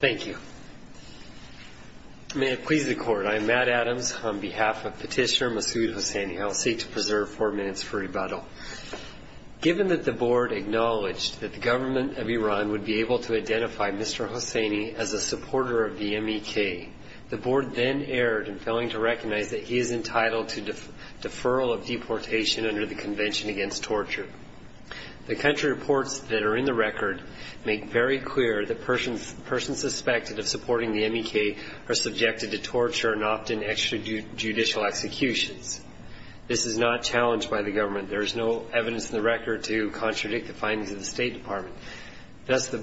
Thank you. May it please the Court, I am Matt Adams on behalf of Petitioner Masoud Hosseini. I will seek to preserve four minutes for rebuttal. Given that the Board acknowledged that the government of Iran would be able to identify Mr. Hosseini as a supporter of the MEK, the Board then erred in failing to recognize that he is entitled to deferral of deportation under the Convention Against Torture. The country reports that are in the record make very clear that persons suspected of supporting the MEK are subjected to torture and often extrajudicial executions. This is not challenged by the government. There is no evidence in the record to contradict the findings of the State Department. Thus,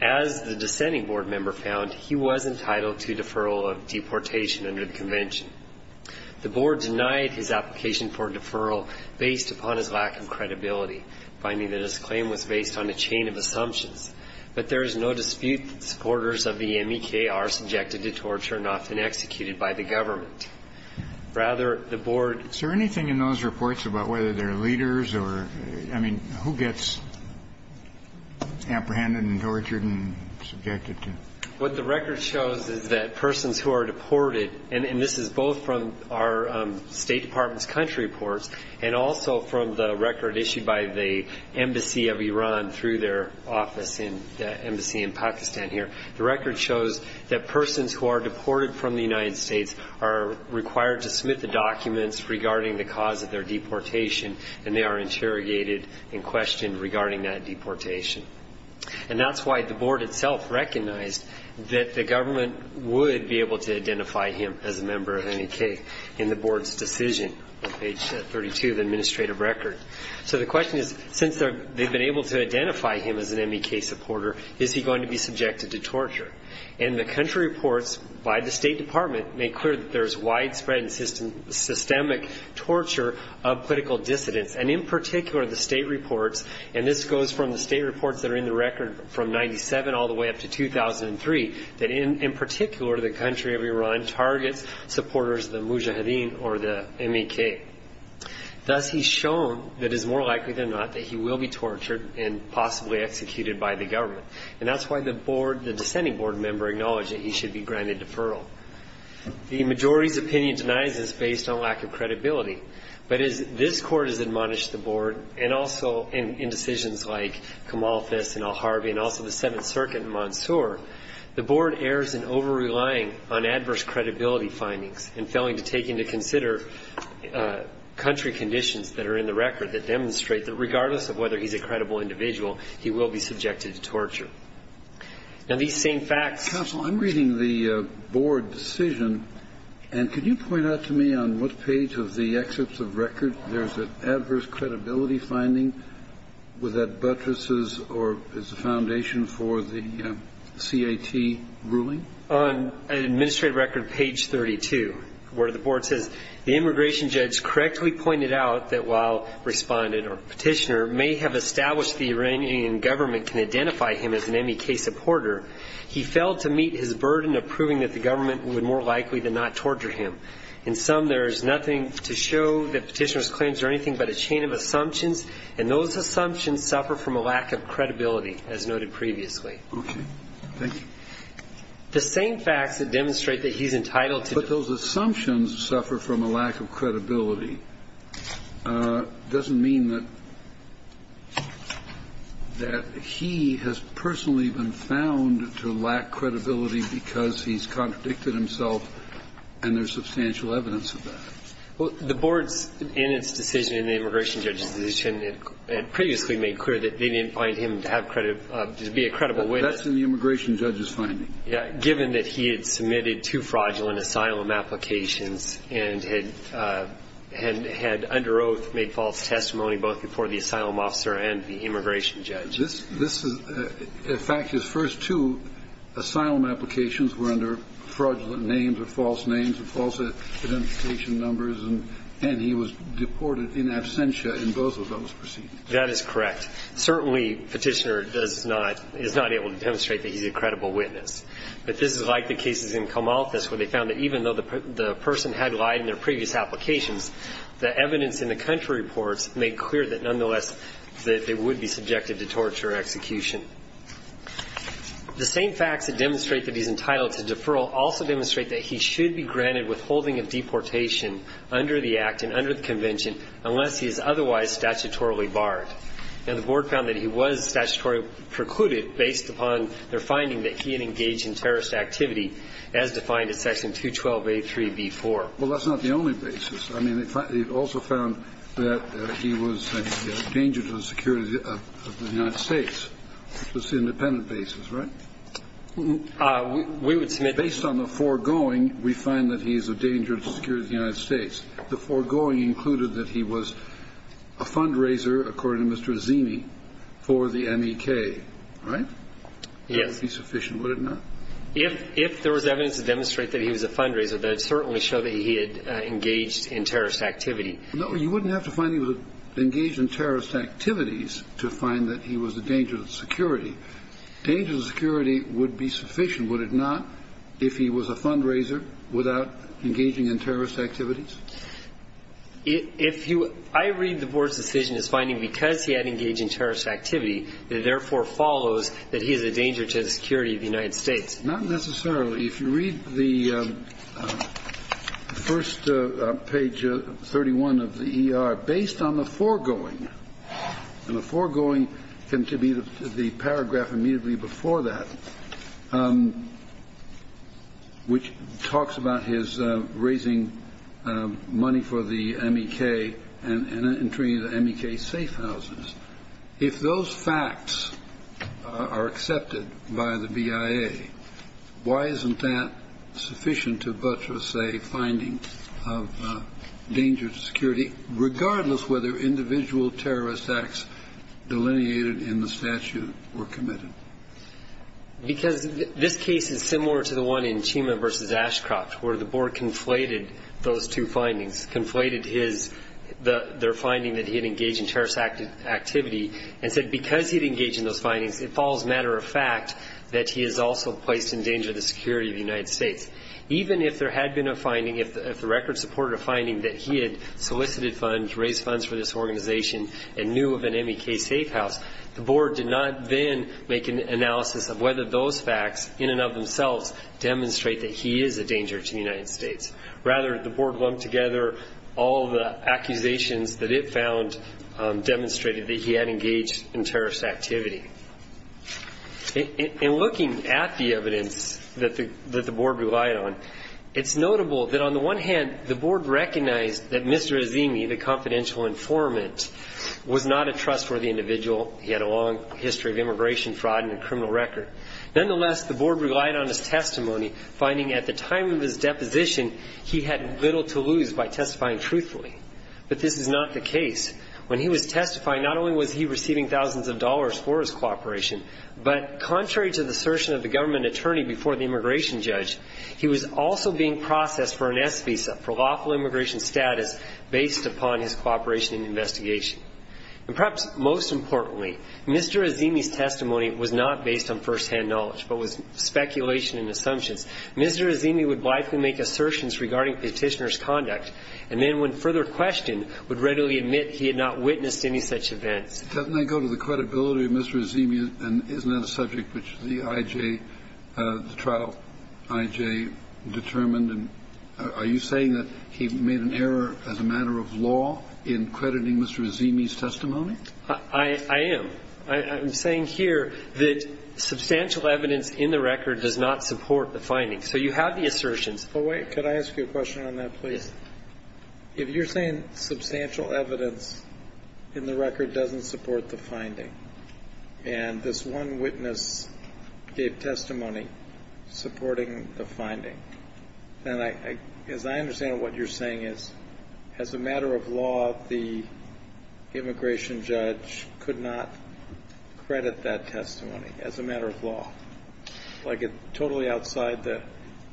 as the dissenting Board member found, he was entitled to deferral of deportation under the Convention. The Board denied his application for deferral based upon his lack of credibility, finding that his claim was based on a chain of assumptions. But there is no dispute that supporters of the MEK are subjected to torture and often executed by the government. Rather, the Board Is there anything in those reports about whether they are leaders or, I mean, who gets apprehended and tortured and subjected to? What the record shows is that persons who are deported, and this is both from our State Department's country reports and also from the record issued by the Embassy of Iran through their office in the Embassy in Pakistan here, the record shows that persons who are deported from the United States are required to submit the documents regarding the cause of their deportation and they are interrogated and questioned regarding that deportation. And that's why the Board itself recognized that the government would be able to identify him as a member of MEK in the Board's decision on page 32 of the The question is, since they've been able to identify him as an MEK supporter, is he going to be subjected to torture? And the country reports by the State Department make clear that there is widespread and systemic torture of political dissidents, and in particular the state reports, and this goes from the state reports that are in the record from 1997 all the way up to 2003, that in particular the country of Iran targets supporters of Mujahideen or the MEK. Thus he's shown that it's more likely than not that he will be tortured and possibly executed by the government, and that's why the Board, the dissenting Board member, acknowledged that he should be granted deferral. The majority's opinion denies this based on lack of credibility, but as this Court has admonished the Board, and also in decisions like Kamal Hafez and Al-Harvey and also the Seventh Circuit in Mansour, the Board errs in over-relying on adverse credibility findings and failing to take into consider country conditions that are in the record that demonstrate that regardless of whether he's a credible individual, he will be subjected to torture. Now, these same facts – Counsel, I'm reading the Board decision, and could you point out to me on what page of the excerpts of record there's an adverse credibility finding? Was that Buttress's or is the foundation for the C.A.T. ruling? On Administrative Record, page 32, where the Board says the immigration judge correctly pointed out that while Respondent or Petitioner may have established the Iranian government can identify him as an MEK supporter, he failed to meet his burden of proving that the government would more likely than not torture him. In sum, there is nothing to show that Petitioner's claims are anything but a chain of assumptions, and those assumptions suffer from a lack of credibility, as noted previously. Okay. Thank you. The same facts that demonstrate that he's entitled to – But those assumptions suffer from a lack of credibility. Doesn't mean that he has personally been found to lack credibility because he's contradicted himself, and there's substantial evidence of that. Well, the Board's, in its decision, in the immigration judge's decision, had previously made clear that they didn't find him to have credibility, to be a credible witness. But that's in the immigration judge's finding. Yeah. Given that he had submitted two fraudulent asylum applications and had under oath made false testimony both before the asylum officer and the immigration judge. This is – in fact, his first two asylum applications were under fraudulent names or false names or false identification numbers, and he was deported in absentia in both of those proceedings. That is correct. Certainly, petitioner does not – is not able to demonstrate that he's a credible witness. But this is like the cases in Comalthus, where they found that even though the person had lied in their previous applications, the evidence in the country reports made clear that, nonetheless, that they would be subjected to torture or execution. The same facts that demonstrate that he's entitled to deferral also demonstrate that he should be granted withholding of deportation under the Act and under the Barred. And the Board found that he was statutorily precluded based upon their finding that he had engaged in terrorist activity, as defined in Section 212a3b4. Well, that's not the only basis. I mean, they also found that he was a danger to the security of the United States. That's the independent basis, right? We would submit – Based on the foregoing, we find that he is a danger to the security of the United According to Mr. Azimi, for the MEK, right? Would it be sufficient? Would it not? If there was evidence to demonstrate that he was a fundraiser, that would certainly show that he had engaged in terrorist activity. No. You wouldn't have to find he was engaged in terrorist activities to find that he was a danger to the security. Danger to the security would be sufficient, would it not, if he was a fundraiser without engaging in terrorist activities? If you – I read the Board's decision as finding because he had engaged in terrorist activity, it therefore follows that he is a danger to the security of the United States. Not necessarily. If you read the first page, 31 of the ER, based on the foregoing – and the foregoing can be the paragraph immediately before that, which talks about his raising money for the MEK and treating the MEK safe houses. If those facts are accepted by the BIA, why isn't that sufficient to butcher, say, finding of danger to security, regardless whether individual terrorist acts delineated in the statute were committed? Because this case is similar to the one in Chima v. Ashcroft, where the Board conflated those two findings, conflated his – their finding that he had engaged in terrorist activity, and said because he had engaged in those findings, it falls matter of fact that he is also placed in danger to the security of the United States. Even if there had been a finding, if the record supported a finding that he had solicited funds, raised funds for this organization, and the Board did not then make an analysis of whether those facts, in and of themselves, demonstrate that he is a danger to the United States. Rather, the Board lumped together all the accusations that it found demonstrated that he had engaged in terrorist activity. In looking at the evidence that the Board relied on, it's notable that on the one hand, the Board recognized that Mr. Azimi, the confidential informant, was not a trustworthy individual. He had a long history of immigration fraud and a criminal record. Nonetheless, the Board relied on his testimony, finding at the time of his deposition, he had little to lose by testifying truthfully. But this is not the case. When he was testifying, not only was he receiving thousands of dollars for his cooperation, but contrary to the assertion of the government attorney before the immigration judge, he was also being processed for an S visa for lawful immigration status based upon his cooperation and investigation. And perhaps most importantly, Mr. Azimi's testimony was not based on firsthand knowledge, but was speculation and assumptions. Mr. Azimi would blithely make assertions regarding Petitioner's conduct, and then when further questioned, would readily admit he had not witnessed any such events. Kennedy. Doesn't that go to the credibility of Mr. Azimi, and isn't that a subject which the I.J. the trial I.J. determined? And are you saying that he made an error as a matter of law in crediting Mr. Azimi's testimony? I am. I'm saying here that substantial evidence in the record does not support the finding. So you have the assertions. But wait. Could I ask you a question on that, please? Yes. If you're saying substantial evidence in the record doesn't support the finding, and this one witness gave testimony supporting the finding, then as I understand what you're saying is, as a matter of law, the immigration judge could not credit that testimony as a matter of law, like it's totally outside the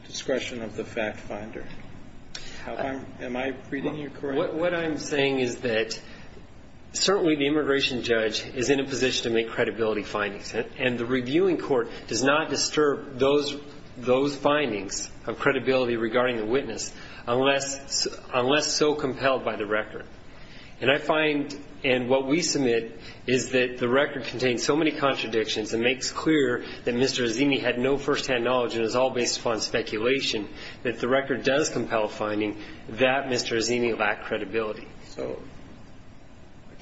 discretion of the fact finder. Am I reading you correctly? What I'm saying is that certainly the immigration judge is in a position to make credibility findings, and the reviewing court does not disturb those findings of credibility regarding the witness unless so compelled by the record. And I find, and what we submit, is that the record contains so many contradictions and makes clear that Mr. Azimi had no first-hand knowledge, and it was all based upon speculation, that the record does compel a finding that Mr. Azimi lacked credibility. So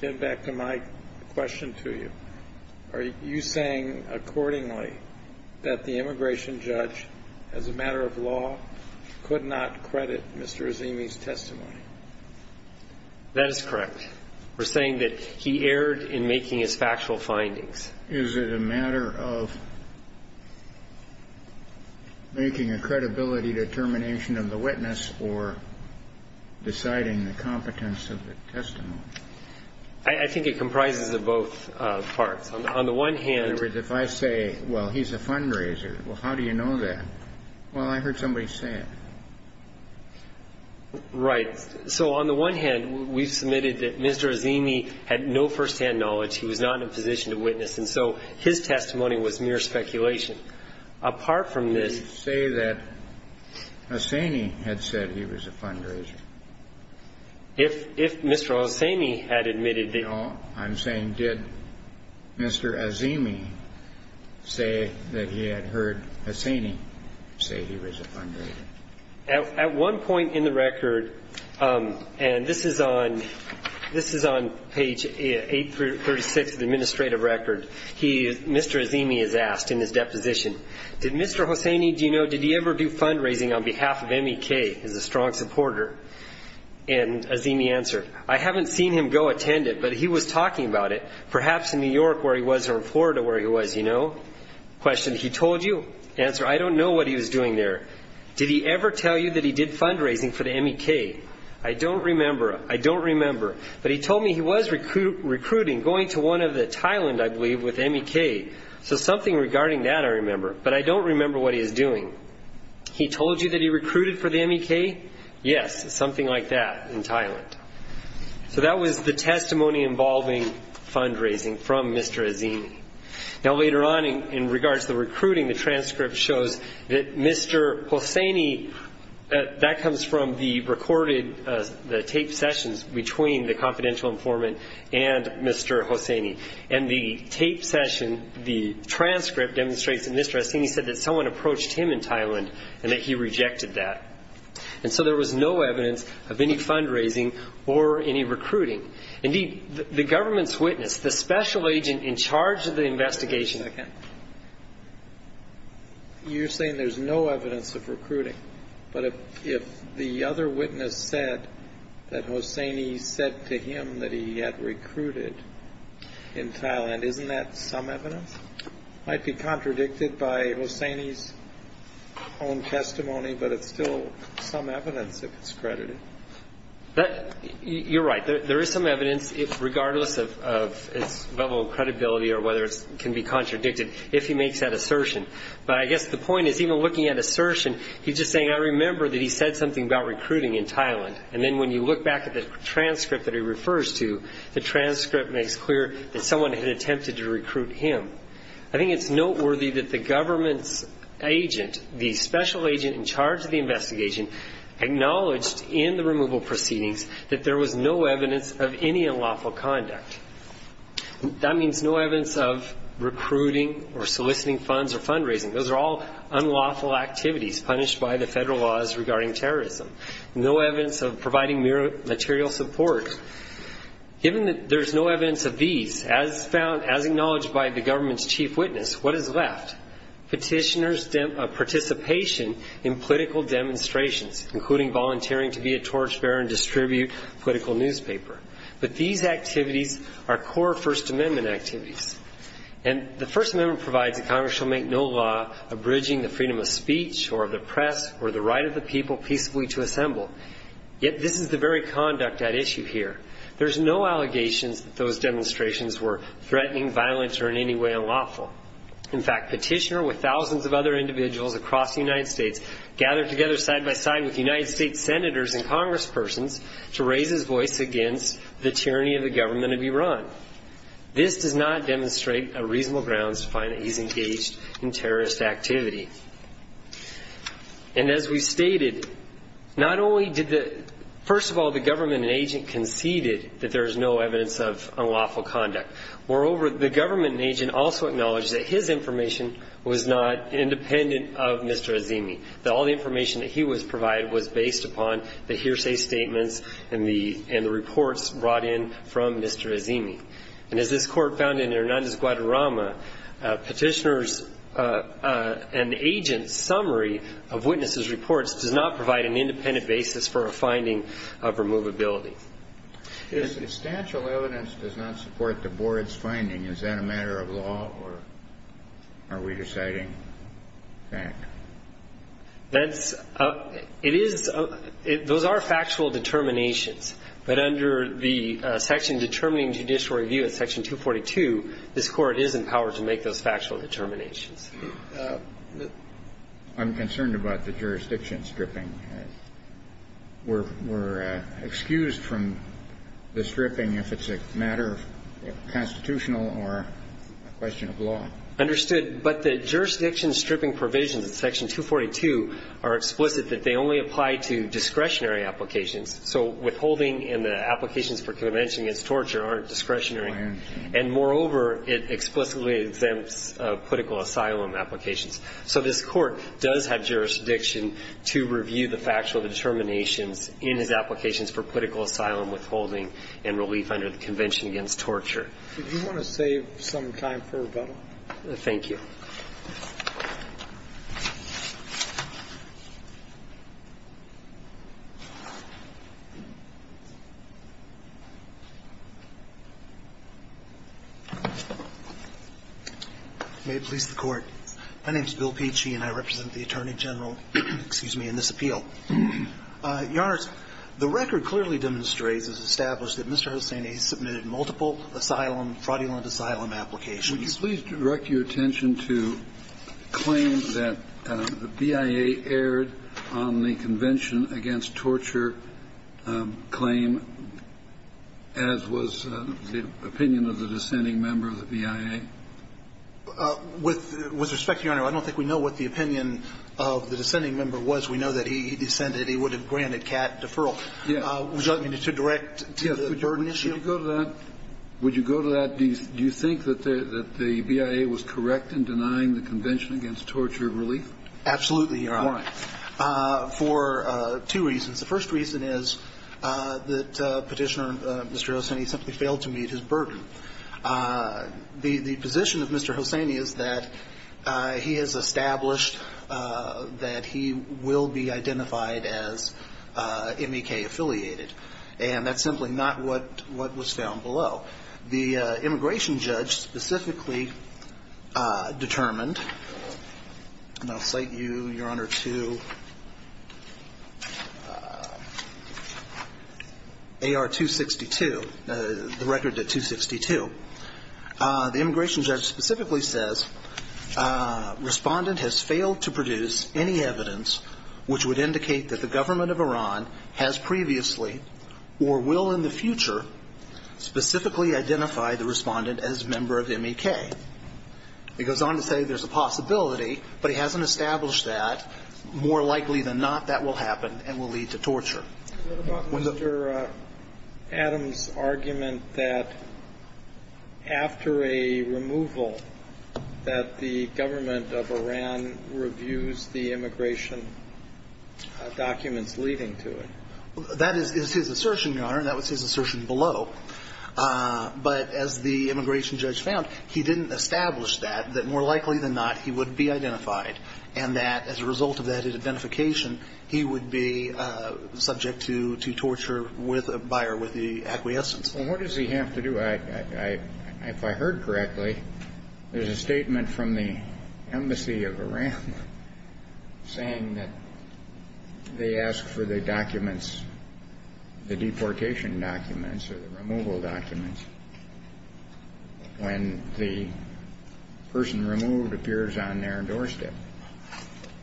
getting back to my question to you, are you saying accordingly that the immigration judge, as a matter of law, could not credit Mr. Azimi's testimony? That is correct. We're saying that he erred in making his factual findings. Is it a matter of making a credibility determination of the witness or deciding the competence of the testimony? I think it comprises of both parts. On the one hand If I say, well, he's a fundraiser, well, how do you know that? Well, I heard somebody say it. Right. So on the one hand, we've submitted that Mr. Azimi had no first-hand knowledge. He was not in a position to witness. And so his testimony was mere speculation. Apart from this, Did you say that Hosseini had said he was a fundraiser? If Mr. Hosseini had admitted that he was a fundraiser. I'm saying, did Mr. Azimi say that he had heard Hosseini say he was a fundraiser? At one point in the record, and this is on page 836 of the administrative record. Mr. Azimi is asked in his deposition, did Mr. Hosseini, did he ever do fundraising on behalf of MEK as a strong supporter? And Azimi answered, I haven't seen him go attend it, but he was talking about it. Perhaps in New York where he was or in Florida where he was. Question, he told you? Answer, I don't know what he was doing there. Did he ever tell you that he did fundraising for the MEK? I don't remember, I don't remember. But he told me he was recruiting, going to one of the Thailand, I believe, with MEK. So something regarding that I remember, but I don't remember what he was doing. He told you that he recruited for the MEK? Yes, something like that in Thailand. So that was the testimony involving fundraising from Mr. Azimi. Now later on in regards to the recruiting, the transcript shows that Mr. Hosseini, that comes from the recorded, the taped sessions between the confidential informant and Mr. Hosseini. And the taped session, the transcript demonstrates that Mr. Azimi said that someone approached him in Thailand and that he rejected that. And so there was no evidence of any fundraising or any recruiting. Indeed, the government's witness, the special agent in charge of the investigation. Again. You're saying there's no evidence of recruiting. But if the other witness said that Hosseini said to him that he had recruited in Thailand, isn't that some evidence? Might be contradicted by Hosseini's own testimony, but it's still some evidence if it's credited. You're right, there is some evidence regardless of its level of credibility or whether it can be contradicted if he makes that assertion. But I guess the point is even looking at assertion, he's just saying I remember that he said something about recruiting in Thailand. And then when you look back at the transcript that he refers to, the transcript makes clear that someone had attempted to recruit him. I think it's noteworthy that the government's agent, the special agent in the removal proceedings, that there was no evidence of any unlawful conduct. That means no evidence of recruiting or soliciting funds or fundraising. Those are all unlawful activities punished by the federal laws regarding terrorism. No evidence of providing material support. Given that there's no evidence of these, as acknowledged by the government's chief witness, what is left? Petitioners' participation in political demonstrations, including volunteering to be a torchbearer and distribute political newspaper. But these activities are core First Amendment activities. And the First Amendment provides that Congress shall make no law abridging the freedom of speech or of the press or the right of the people peacefully to assemble. Yet this is the very conduct at issue here. There's no allegations that those demonstrations were threatening, violent, or in any way unlawful. In fact, petitioner with thousands of other individuals across the United States gathered together side by side with United States Senators and Congresspersons to raise his voice against the tyranny of the government of Iran. This does not demonstrate a reasonable grounds to find that he's engaged in terrorist activity. And as we stated, not only did the, first of all, the government and agent conceded that there's no evidence of unlawful conduct. Moreover, the government agent also acknowledged that his information was not independent of Mr. Azimi, that all the information that he was provided was based upon the hearsay statements and the reports brought in from Mr. Azimi. And as this court found in Hernandez-Guadarrama, petitioner's and agent's summary of witnesses' reports does not provide an independent basis for a finding of removability. If statute of evidence does not support the board's finding, is that a matter of law or are we deciding fact? That's, it is, those are factual determinations. But under the section determining judicial review at section 242, this court is empowered to make those factual determinations. I'm concerned about the jurisdiction stripping. We're, we're excused from the stripping if it's a matter of constitutional or a question of law. Understood. But the jurisdiction stripping provisions in section 242 are explicit that they only apply to discretionary applications. So withholding in the applications for convention against torture aren't discretionary. And moreover, it explicitly exempts political asylum applications. So this court does have jurisdiction to review the factual determinations in his applications for political asylum withholding and relief under the convention against torture. Did you want to save some time for rebuttal? Thank you. May it please the court. My name is Bill Pecci and I represent the Attorney General, excuse me, in this appeal. Your Honor, the record clearly demonstrates as established that Mr. Hussaini submitted multiple asylum, fraudulent asylum applications. Would you please direct your attention to claims that the BIA aired on the convention against torture claim as was the opinion of the dissenting member of the BIA? With respect, Your Honor, I don't think we know what the opinion of the dissenting member was. We know that he dissented. He would have granted CAT deferral. Would you like me to direct to the burden issue? Would you go to that? Do you think that the BIA was correct in denying the convention against torture relief? Absolutely, Your Honor. Why? For two reasons. The first reason is that Petitioner, Mr. Hussaini, simply failed to meet his burden. The position of Mr. Hussaini is that he has established that he will be identified as MEK-affiliated, and that's simply not what was found below. The immigration judge specifically determined, and I'll cite you, Your Honor, to AR-262, the record at 262. The immigration judge specifically says, Respondent has failed to produce any evidence which would indicate that the government of Iran has previously or will in the future specifically identify the Respondent as a member of MEK. He goes on to say there's a possibility, but he hasn't established that. More likely than not, that will happen and will lead to torture. What about Mr. Adams' argument that after a removal, that the government of Iran reviews the immigration documents leading to it? That is his assertion, Your Honor, and that was his assertion below. But as the immigration judge found, he didn't establish that, that more likely than not, he would be identified, and that as a result of that identification, he would be subject to torture with, by or with the acquiescence. Well, what does he have to do? I, if I heard correctly, there's a statement from the embassy of Iran saying that they ask for the documents, the deportation documents or the removal documents, when the person removed appears on their doorstep.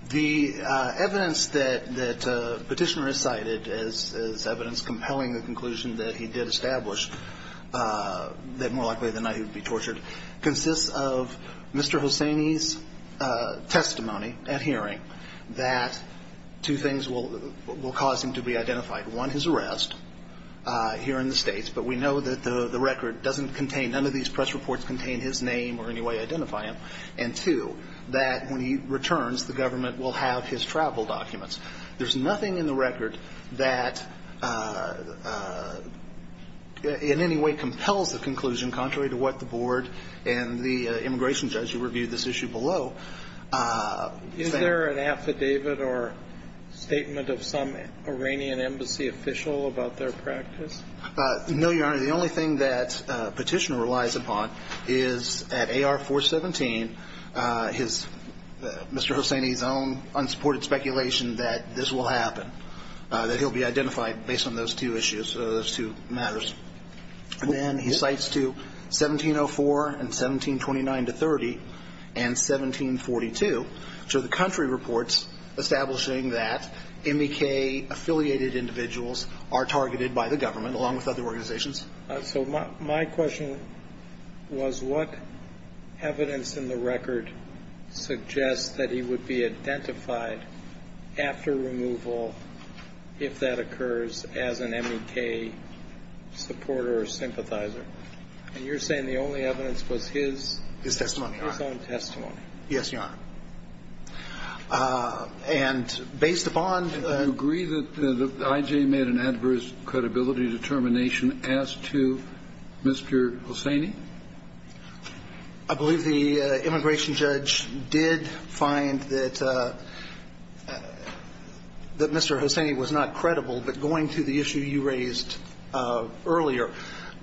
The evidence that, that Petitioner has cited as, as evidence compelling the conclusion that he did establish that more likely than not he would be tortured consists of Mr. Hosseini's testimony at hearing that two things will, will cause him to be identified. One, his arrest here in the States, but we know that the, the record doesn't contain, none of these press reports contain his name or any way to identify him. And two, that when he returns, the government will have his travel documents. There's nothing in the record that in any way compels the conclusion, contrary to what the board and the immigration judge who reviewed this issue below. Is there an affidavit or statement of some Iranian embassy official about their practice? No, Your Honor. The only thing that Petitioner relies upon is at AR 417, his, Mr. Hosseini's own unsupported speculation that this will happen. That he'll be identified based on those two issues, those two matters. And then he cites to 1704 and 1729 to 30 and 1742. So the country reports establishing that MEK affiliated individuals are targeted by the government along with other organizations. So my, my question was what evidence in the record suggests that he would be identified after removal, if that occurs, as an MEK supporter or sympathizer? And you're saying the only evidence was his. His testimony, Your Honor. His own testimony. Yes, Your Honor. And based upon. And do you agree that I.J. made an adverse credibility determination as to Mr. Hosseini? I believe the immigration judge did find that Mr. Hosseini was not credible, but going to the issue you raised earlier,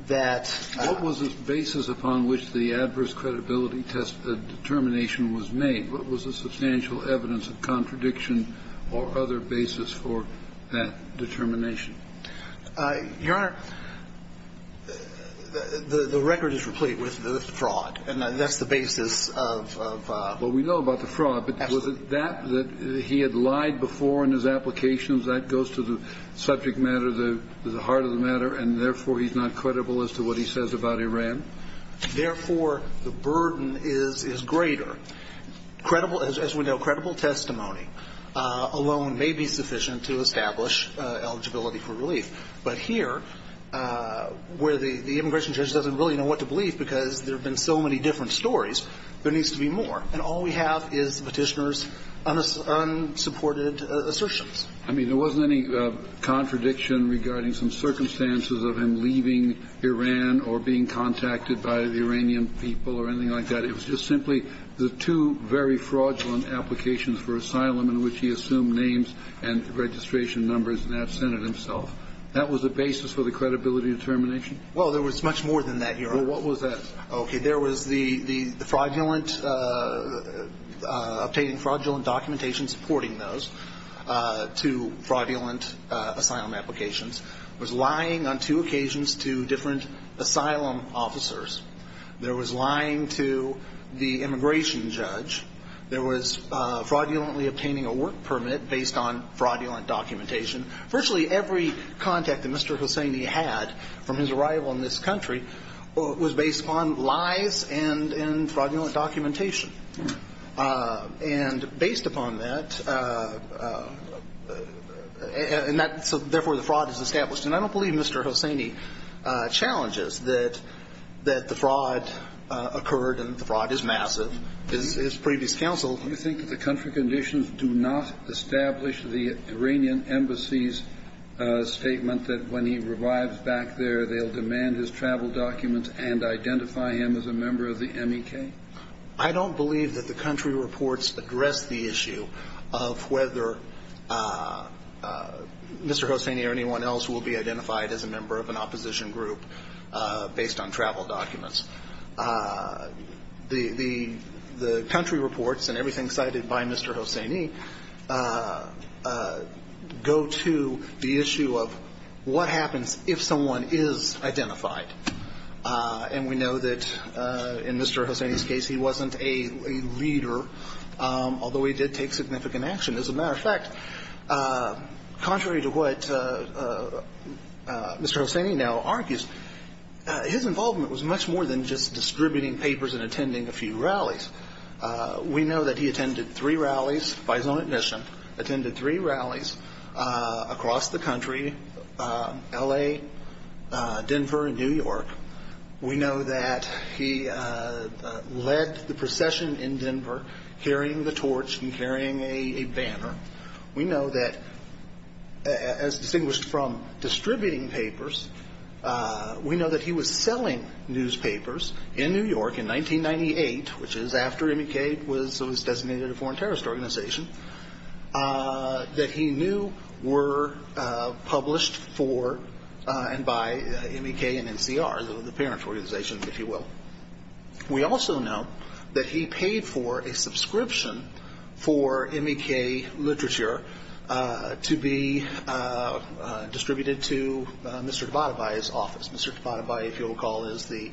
that. What was the basis upon which the adverse credibility determination was made? What was the substantial evidence of contradiction or other basis for that determination? Your Honor, the record is replete with fraud, and that's the basis of. Well, we know about the fraud, but was it that, that he had lied before in his applications? That goes to the subject matter, the heart of the matter, and therefore, he's not credible as to what he says about Iran? Therefore, the burden is greater. Credible, as we know, credible testimony alone may be sufficient to establish eligibility for relief. But here, where the immigration judge doesn't really know what to believe because there have been so many different stories, there needs to be more. And all we have is Petitioner's unsupported assertions. I mean, there wasn't any contradiction regarding some circumstances of him leaving Iran or being contacted by the Iranian people or anything like that. It was just simply the two very fraudulent applications for asylum in which he assumed names and registration numbers in that Senate himself. That was the basis for the credibility determination? Well, there was much more than that, Your Honor. What was that? Okay, there was the fraudulent, obtaining fraudulent documentation supporting those two fraudulent asylum applications. Was lying on two occasions to different asylum officers. There was lying to the immigration judge. There was fraudulently obtaining a work permit based on fraudulent documentation. Virtually every contact that Mr. Hosseini had from his arrival in this country was based upon lies and fraudulent documentation. And based upon that, and that's where the fraud is established. And I don't believe Mr. Hosseini challenges that the fraud occurred and the fraud is massive. His previous counsel. Do you think that the country conditions do not establish the Iranian embassy's statement that when he arrives back there, they'll demand his travel documents and identify him as a member of the MEK? I don't believe that the country reports address the issue of whether Mr. Hosseini or anyone else will be identified as a member of an opposition group based on travel documents. The country reports and everything cited by Mr. Hosseini go to the issue of what happens if someone is identified. And we know that in Mr. Hosseini's case, he wasn't a leader, although he did take significant action. As a matter of fact, contrary to what Mr. Hosseini now argues, his involvement was much more than just distributing papers and attending a few rallies. We know that he attended three rallies by his own admission, attended three rallies across the country, LA, Denver, and New York. We know that he led the procession in Denver carrying the torch and carrying a banner. We know that, as distinguished from distributing papers, we know that he was selling newspapers in New York in 1998, which is after MEK was designated a foreign terrorist organization, that he knew were published for and by MEK and NCR, the parent organization, if you will. We also know that he paid for a subscription for MEK literature to be distributed to Mr. Tabatabai's office. Mr. Tabatabai, if you'll recall, is the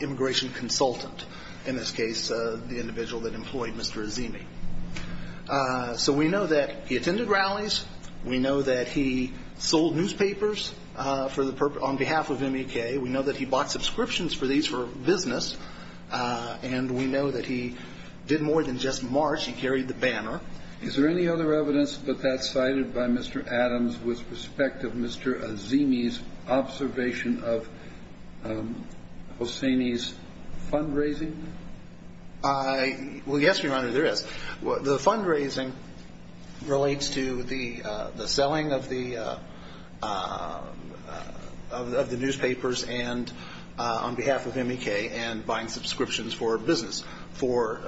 immigration consultant, in this case, the individual that employed Mr. Hosseini. So we know that he attended rallies. We know that he sold newspapers on behalf of MEK. We know that he bought subscriptions for these for business. And we know that he did more than just march. He carried the banner. Is there any other evidence that that's cited by Mr. Adams with respect of Mr. Azimi's observation of Hosseini's fundraising? Well, yes, Your Honor, there is. The fundraising relates to the selling of the newspapers on behalf of MEK and buying subscriptions for business for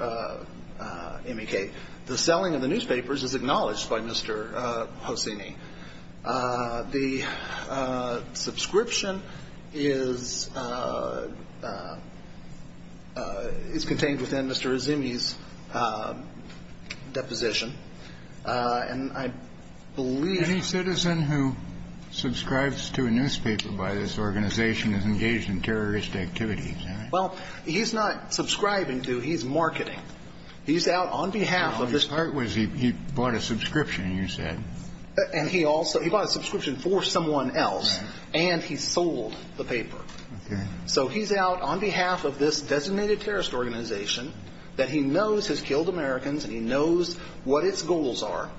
MEK. The selling of the newspapers is acknowledged by Mr. Hosseini. The subscription is contained within Mr. Azimi's deposition. And I believe- Any citizen who subscribes to a newspaper by this organization is engaged in terrorist activity, is that right? Well, he's not subscribing to, he's marketing. He's out on behalf of- No, his part was he bought a subscription, you said. And he also, he bought a subscription for someone else. And he sold the paper. So he's out on behalf of this designated terrorist organization that he knows has killed Americans and he knows what its goals are.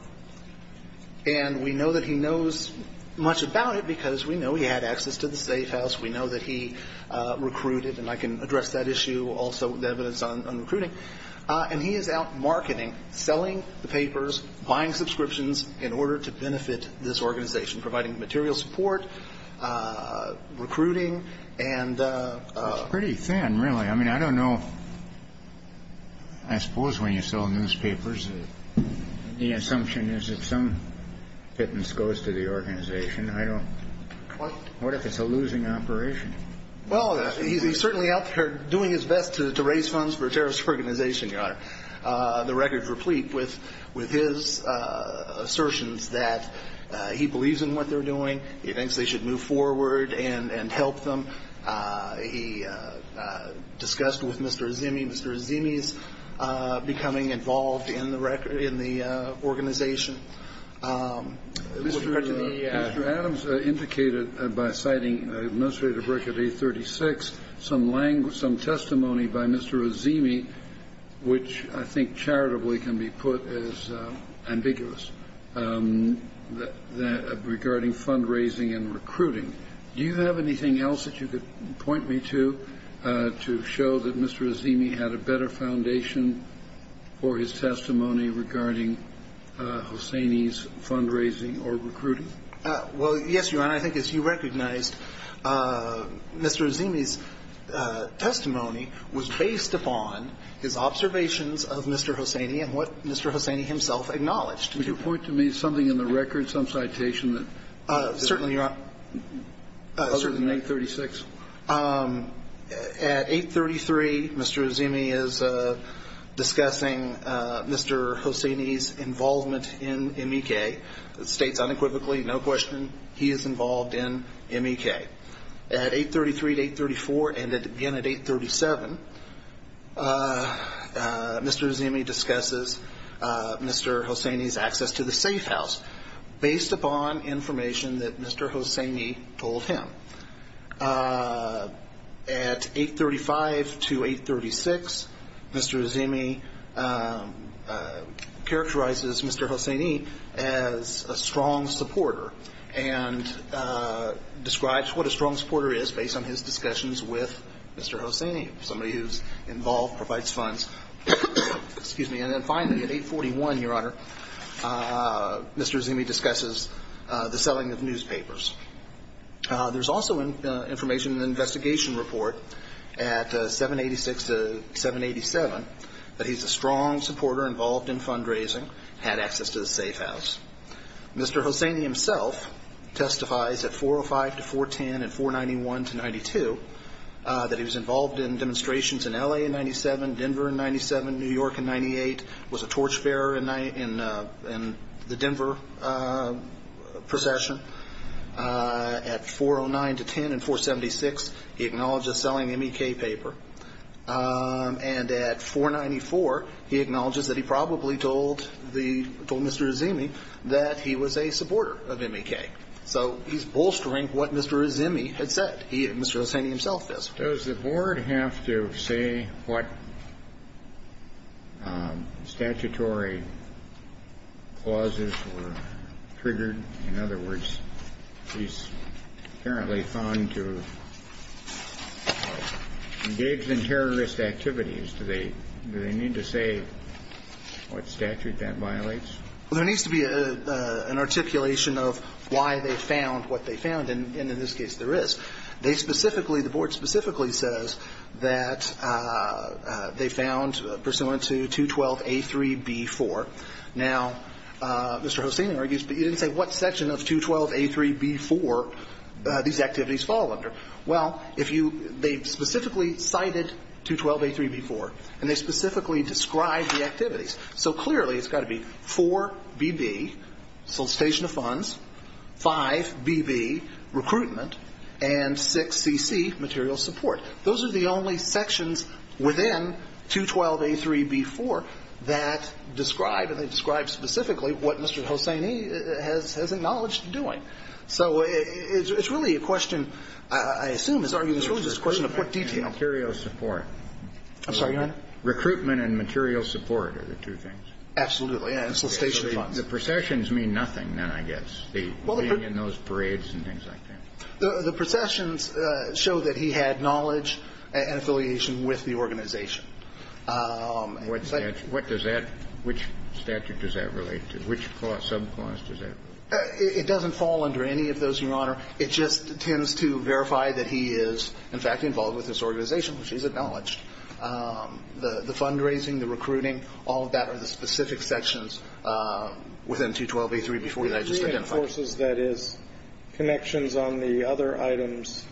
And we know that he knows much about it because we know he had access to the safe house. We know that he recruited, and I can address that issue also with evidence on recruiting. And he is out marketing, selling the papers, buying subscriptions in order to benefit this organization, providing material support, recruiting, and- It's pretty thin, really. I mean, I don't know, I suppose when you sell newspapers, the assumption is that some fitness goes to the organization. I don't, what if it's a losing operation? Well, he's certainly out there doing his best to raise funds for a terrorist organization, Your Honor. The record's replete with his assertions that he believes in what they're doing. He thinks they should move forward and help them. He discussed with Mr. Azimi, Mr. Azimi's becoming involved in the organization. Mr. Adams indicated by citing Administrator Brick at 836, some testimony by Mr. Azimi, which I think charitably can be put as ambiguous, regarding fundraising and recruiting. Do you have anything else that you could point me to, to show that Mr. Azimi's fundraising or recruiting? Well, yes, Your Honor. I think as you recognized, Mr. Azimi's testimony was based upon his observations of Mr. Hosseini and what Mr. Hosseini himself acknowledged. Would you point to me something in the record, some citation that- Certainly, Your Honor. Other than 836? At 833, Mr. Azimi is discussing Mr. Hosseini's involvement in MEK. It states unequivocally, no question, he is involved in MEK. At 833 to 834, and again at 837, Mr. Azimi discusses Mr. Hosseini's access to the safe house based upon information that Mr. Hosseini told him. At 835 to 836, Mr. Azimi characterizes Mr. Hosseini as a strong supporter and describes what a strong supporter is based on his discussions with Mr. Hosseini, somebody who's involved, provides funds. Excuse me. And then finally, at 841, Your Honor, Mr. Azimi discusses the selling of newspapers. There's also information in the investigation report at 786 to 787 that he's a strong supporter involved in fundraising, had access to the safe house. Mr. Hosseini himself testifies at 405 to 410 and 491 to 92 that he was involved in demonstrations in LA in 97, Denver in 97, New York in 98, was a torchbearer in the Denver procession. At 409 to 10 and 476, he acknowledges selling M.E.K. paper. And at 494, he acknowledges that he probably told the Mr. Azimi that he was a supporter of M.E.K. So he's bolstering what Mr. Azimi had said. Mr. Hosseini himself does. Does the Board have to say what statutory clauses were triggered? In other words, he's apparently found to have engaged in terrorist activities. Do they need to say what statute that violates? Well, there needs to be an articulation of why they found what they found, and in this case, there is. They specifically, the Board specifically says that they found pursuant to 212A3B4. Now Mr. Hosseini argues, but you didn't say what section of 212A3B4 these activities fall under. Well, if you, they specifically cited 212A3B4, and they specifically described the activities. So clearly, it's got to be 4BB, solicitation of funds, 5BB, recruitment, and 6CC, material support. Those are the only sections within 212A3B4 that describe, and they describe specifically what Mr. Hosseini has acknowledged doing. So it's really a question, I assume, it's argued it's really just a question of what detail. Material support. I'm sorry, go ahead. Recruitment and material support are the two things. Absolutely. And solicitation of funds. The processions mean nothing, then, I guess, being in those parades and things like that. The processions show that he had knowledge and affiliation with the organization. What does that, which statute does that relate to? Which subclause does that relate to? It doesn't fall under any of those, Your Honor. It just tends to verify that he is, in fact, involved with this organization, which he's acknowledged. The fundraising, the recruiting, all of that are the specific sections within 212A3B4 that I just identified. He reinforces that his connections on the other items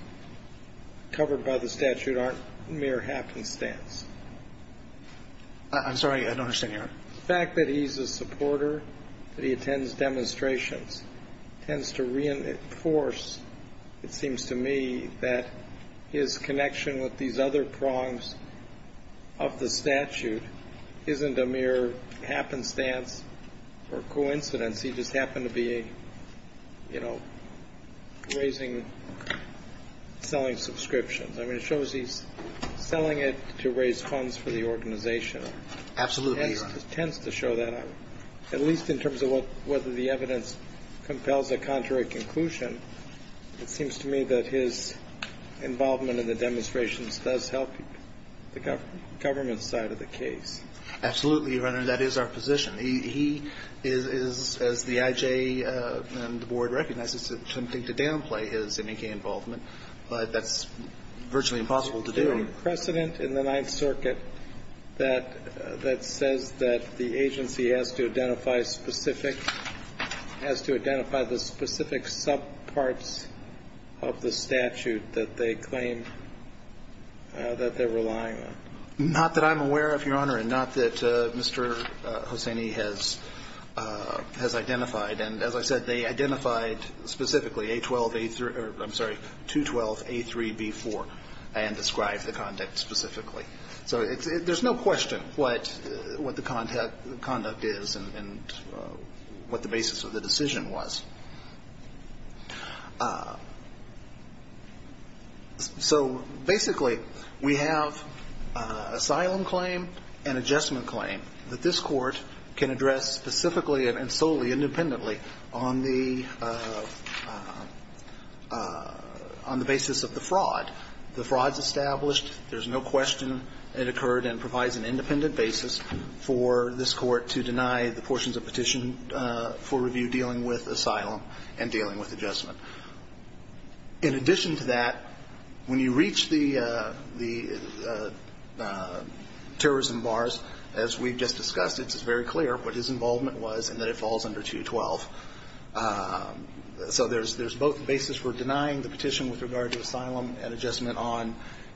covered by the statute aren't mere happenstance. I'm sorry, I don't understand, Your Honor. The fact that he's a supporter, that he attends demonstrations, tends to reinforce, it seems to me, that his connection with these other prongs of the statute isn't a mere happenstance or coincidence. He just happened to be, you know, raising, selling subscriptions. I mean, it shows he's selling it to raise funds for the organization. Absolutely, Your Honor. It tends to show that, at least in terms of whether the evidence compels a contrary conclusion, it seems to me that his involvement in the demonstrations does help the government side of the case. Absolutely, Your Honor. That is our position. He is, as the IJ and the Board recognize, it's something to downplay, his MEK involvement. But that's virtually impossible to do. Is there a precedent in the Ninth Circuit that says that the agency has to identify specific, has to identify the specific subparts of the statute that they claim that they're relying on? Not that I'm aware of, Your Honor, and not that Mr. Hosseini has identified. And as I said, they identified specifically A12, A3, or I'm sorry, 212, A3, B4, and described the conduct specifically. So there's no question what the conduct is and what the basis of the decision was. So basically, we have asylum claim and adjustment claim that this court can address specifically and solely independently on the basis of the fraud. The fraud's established. There's no question it occurred and provides an independent basis for this court to deny the portions of petition for review dealing with asylum and dealing with adjustment. In addition to that, when you reach the terrorism bars, as we've just discussed, it's very clear what his involvement was and that it falls under 212. So there's both the basis for denying the petition with regard to asylum and adjustment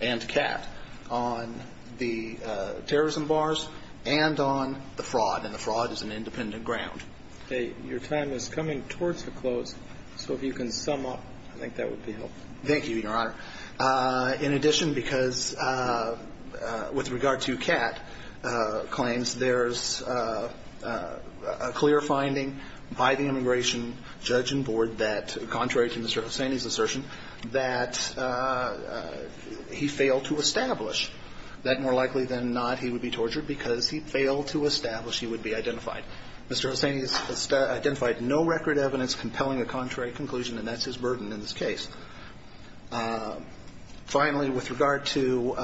and CAT on the terrorism bars and on the fraud. And the fraud is an independent ground. Okay. Your time is coming towards a close. So if you can sum up, I think that would be helpful. Thank you, Your Honor. In addition, because with regard to CAT claims, there's a clear finding by the immigration judge and board that, contrary to Mr. Hussaini's assertion, that he failed to establish. That more likely than not, he would be tortured because he failed to establish he would be identified. Mr. Hussaini has identified no record evidence compelling a contrary conclusion, and that's his burden in this case. Finally, with regard to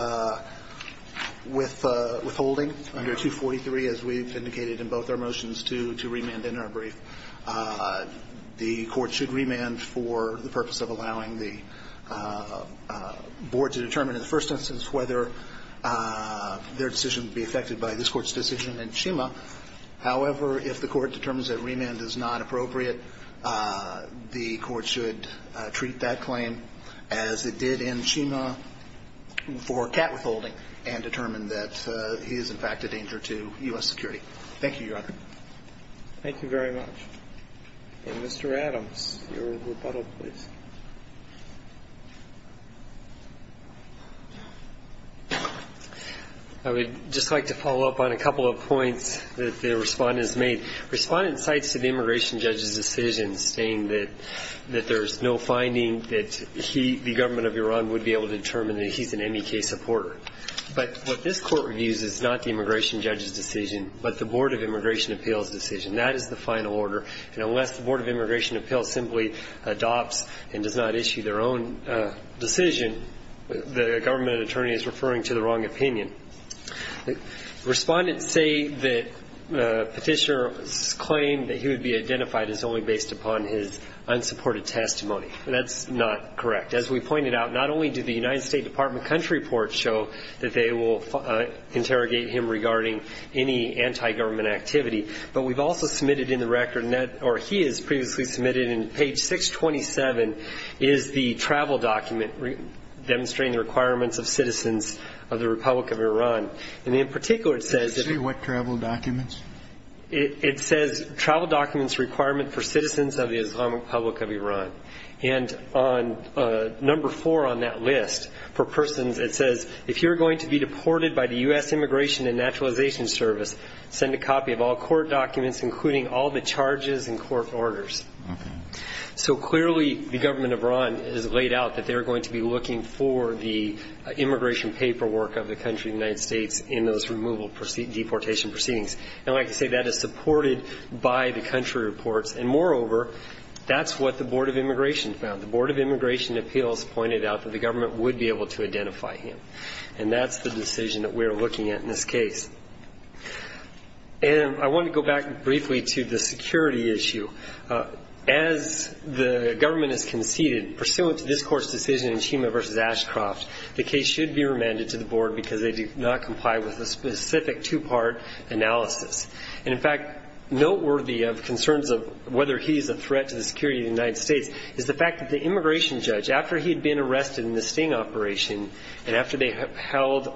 withholding under 243, as we've indicated in both our motions to remand in our brief, the court should remand for the purpose of allowing the board to determine in the first instance whether their decision would be affected by this court's decision in Chima. However, if the court determines that remand is not appropriate, the court should treat that claim as it did in Chima for CAT withholding and determine that he is, in fact, a danger to U.S. security. Thank you, Your Honor. Thank you very much. And Mr. Adams, your rebuttal, please. I would just like to follow up on a couple of points that the respondents made. Respondent cites the immigration judge's decision, saying that there's no finding that he, the government of Iran, would be able to determine that he's an MEK supporter. But what this court reviews is not the immigration judge's decision, but the Board of Immigration Appeals' decision. That is the final order. And unless the Board of Immigration Appeals simply adopts and does not issue their own decision, the government attorney is referring to the wrong opinion. Respondents say that Petitioner's claim that he would be identified is only based upon his unsupported testimony. That's not correct. As we pointed out, not only did the United States Department of Country report show that they will interrogate him regarding any anti-government activity, but we've also submitted in the record, or he has previously submitted in page 627, is the travel document demonstrating the requirements of citizens of the Republic of Iran. And in particular, it says that... Excuse me, what travel documents? It says travel documents requirement for citizens of the Islamic Republic of Iran. And on number four on that list, for persons, it says, if you're going to be deported by the U.S. Immigration and Naturalization Service, send a copy of all court documents, including all the charges and court orders. So clearly, the government of Iran has laid out that they're going to be looking for the immigration paperwork of the country of the United States in those removal deportation proceedings. And like I say, that is supported by the country reports. And moreover, that's what the Board of Immigration found. The Board of Immigration Appeals pointed out that the government would be able to identify him. And that's the decision that we're looking at in this case. And I want to go back briefly to the security issue. As the government has conceded, pursuant to this court's decision in Chima v. Ashcroft, the case should be remanded to the board because they do not comply with a specific two-part analysis. And in fact, noteworthy of concerns of whether he's a threat to the security of the United States is the fact that the immigration judge, after he had been arrested in the Sting operation and after they held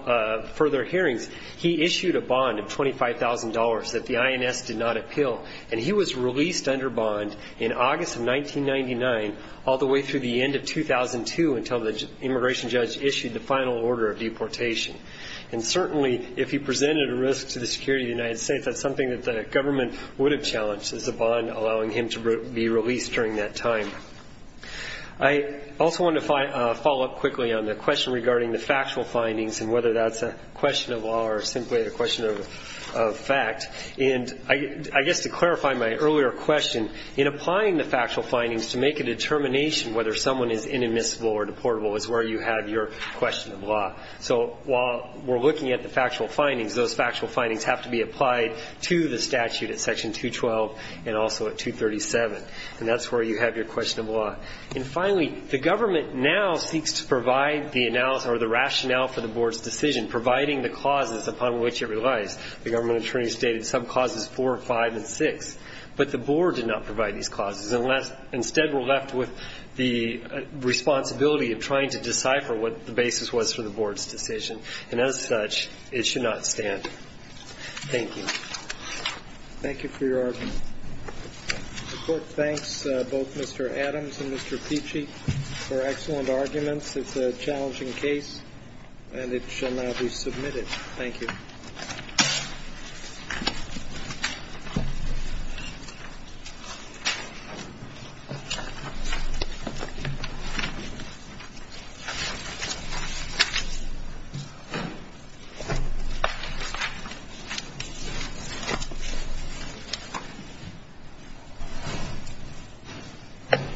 further hearings, he issued a bond of $25,000 that the INS did not appeal. And he was released under bond in August of 1999, all the way through the end of 2002 until the immigration judge issued the final order of deportation. And certainly, if he presented a risk to the security of the United States, that's something that the government would have challenged is a bond allowing him to be released during that time. I also want to follow up quickly on the question regarding the factual findings and whether that's a question of law or simply a question of fact. And I guess to clarify my earlier question, in applying the factual findings to make a determination whether someone is inadmissible or deportable is where you have your question of law. So while we're looking at the factual findings, those factual findings have to be applied to the statute at section 212 and also at 237. And that's where you have your question of law. And finally, the government now seeks to provide the analysis or the rationale for the board's decision, providing the clauses upon which it relies. The government attorney stated some clauses 4, 5, and 6, but the board did not provide these clauses. And instead, we're left with the responsibility of trying to decipher what the basis was for the board's decision. And as such, it should not stand. Thank you. Thank you for your argument. The court thanks both Mr. Adams and Mr. Pichi for excellent arguments. It's a challenging case, and it shall now be submitted. Thank you. Thank you.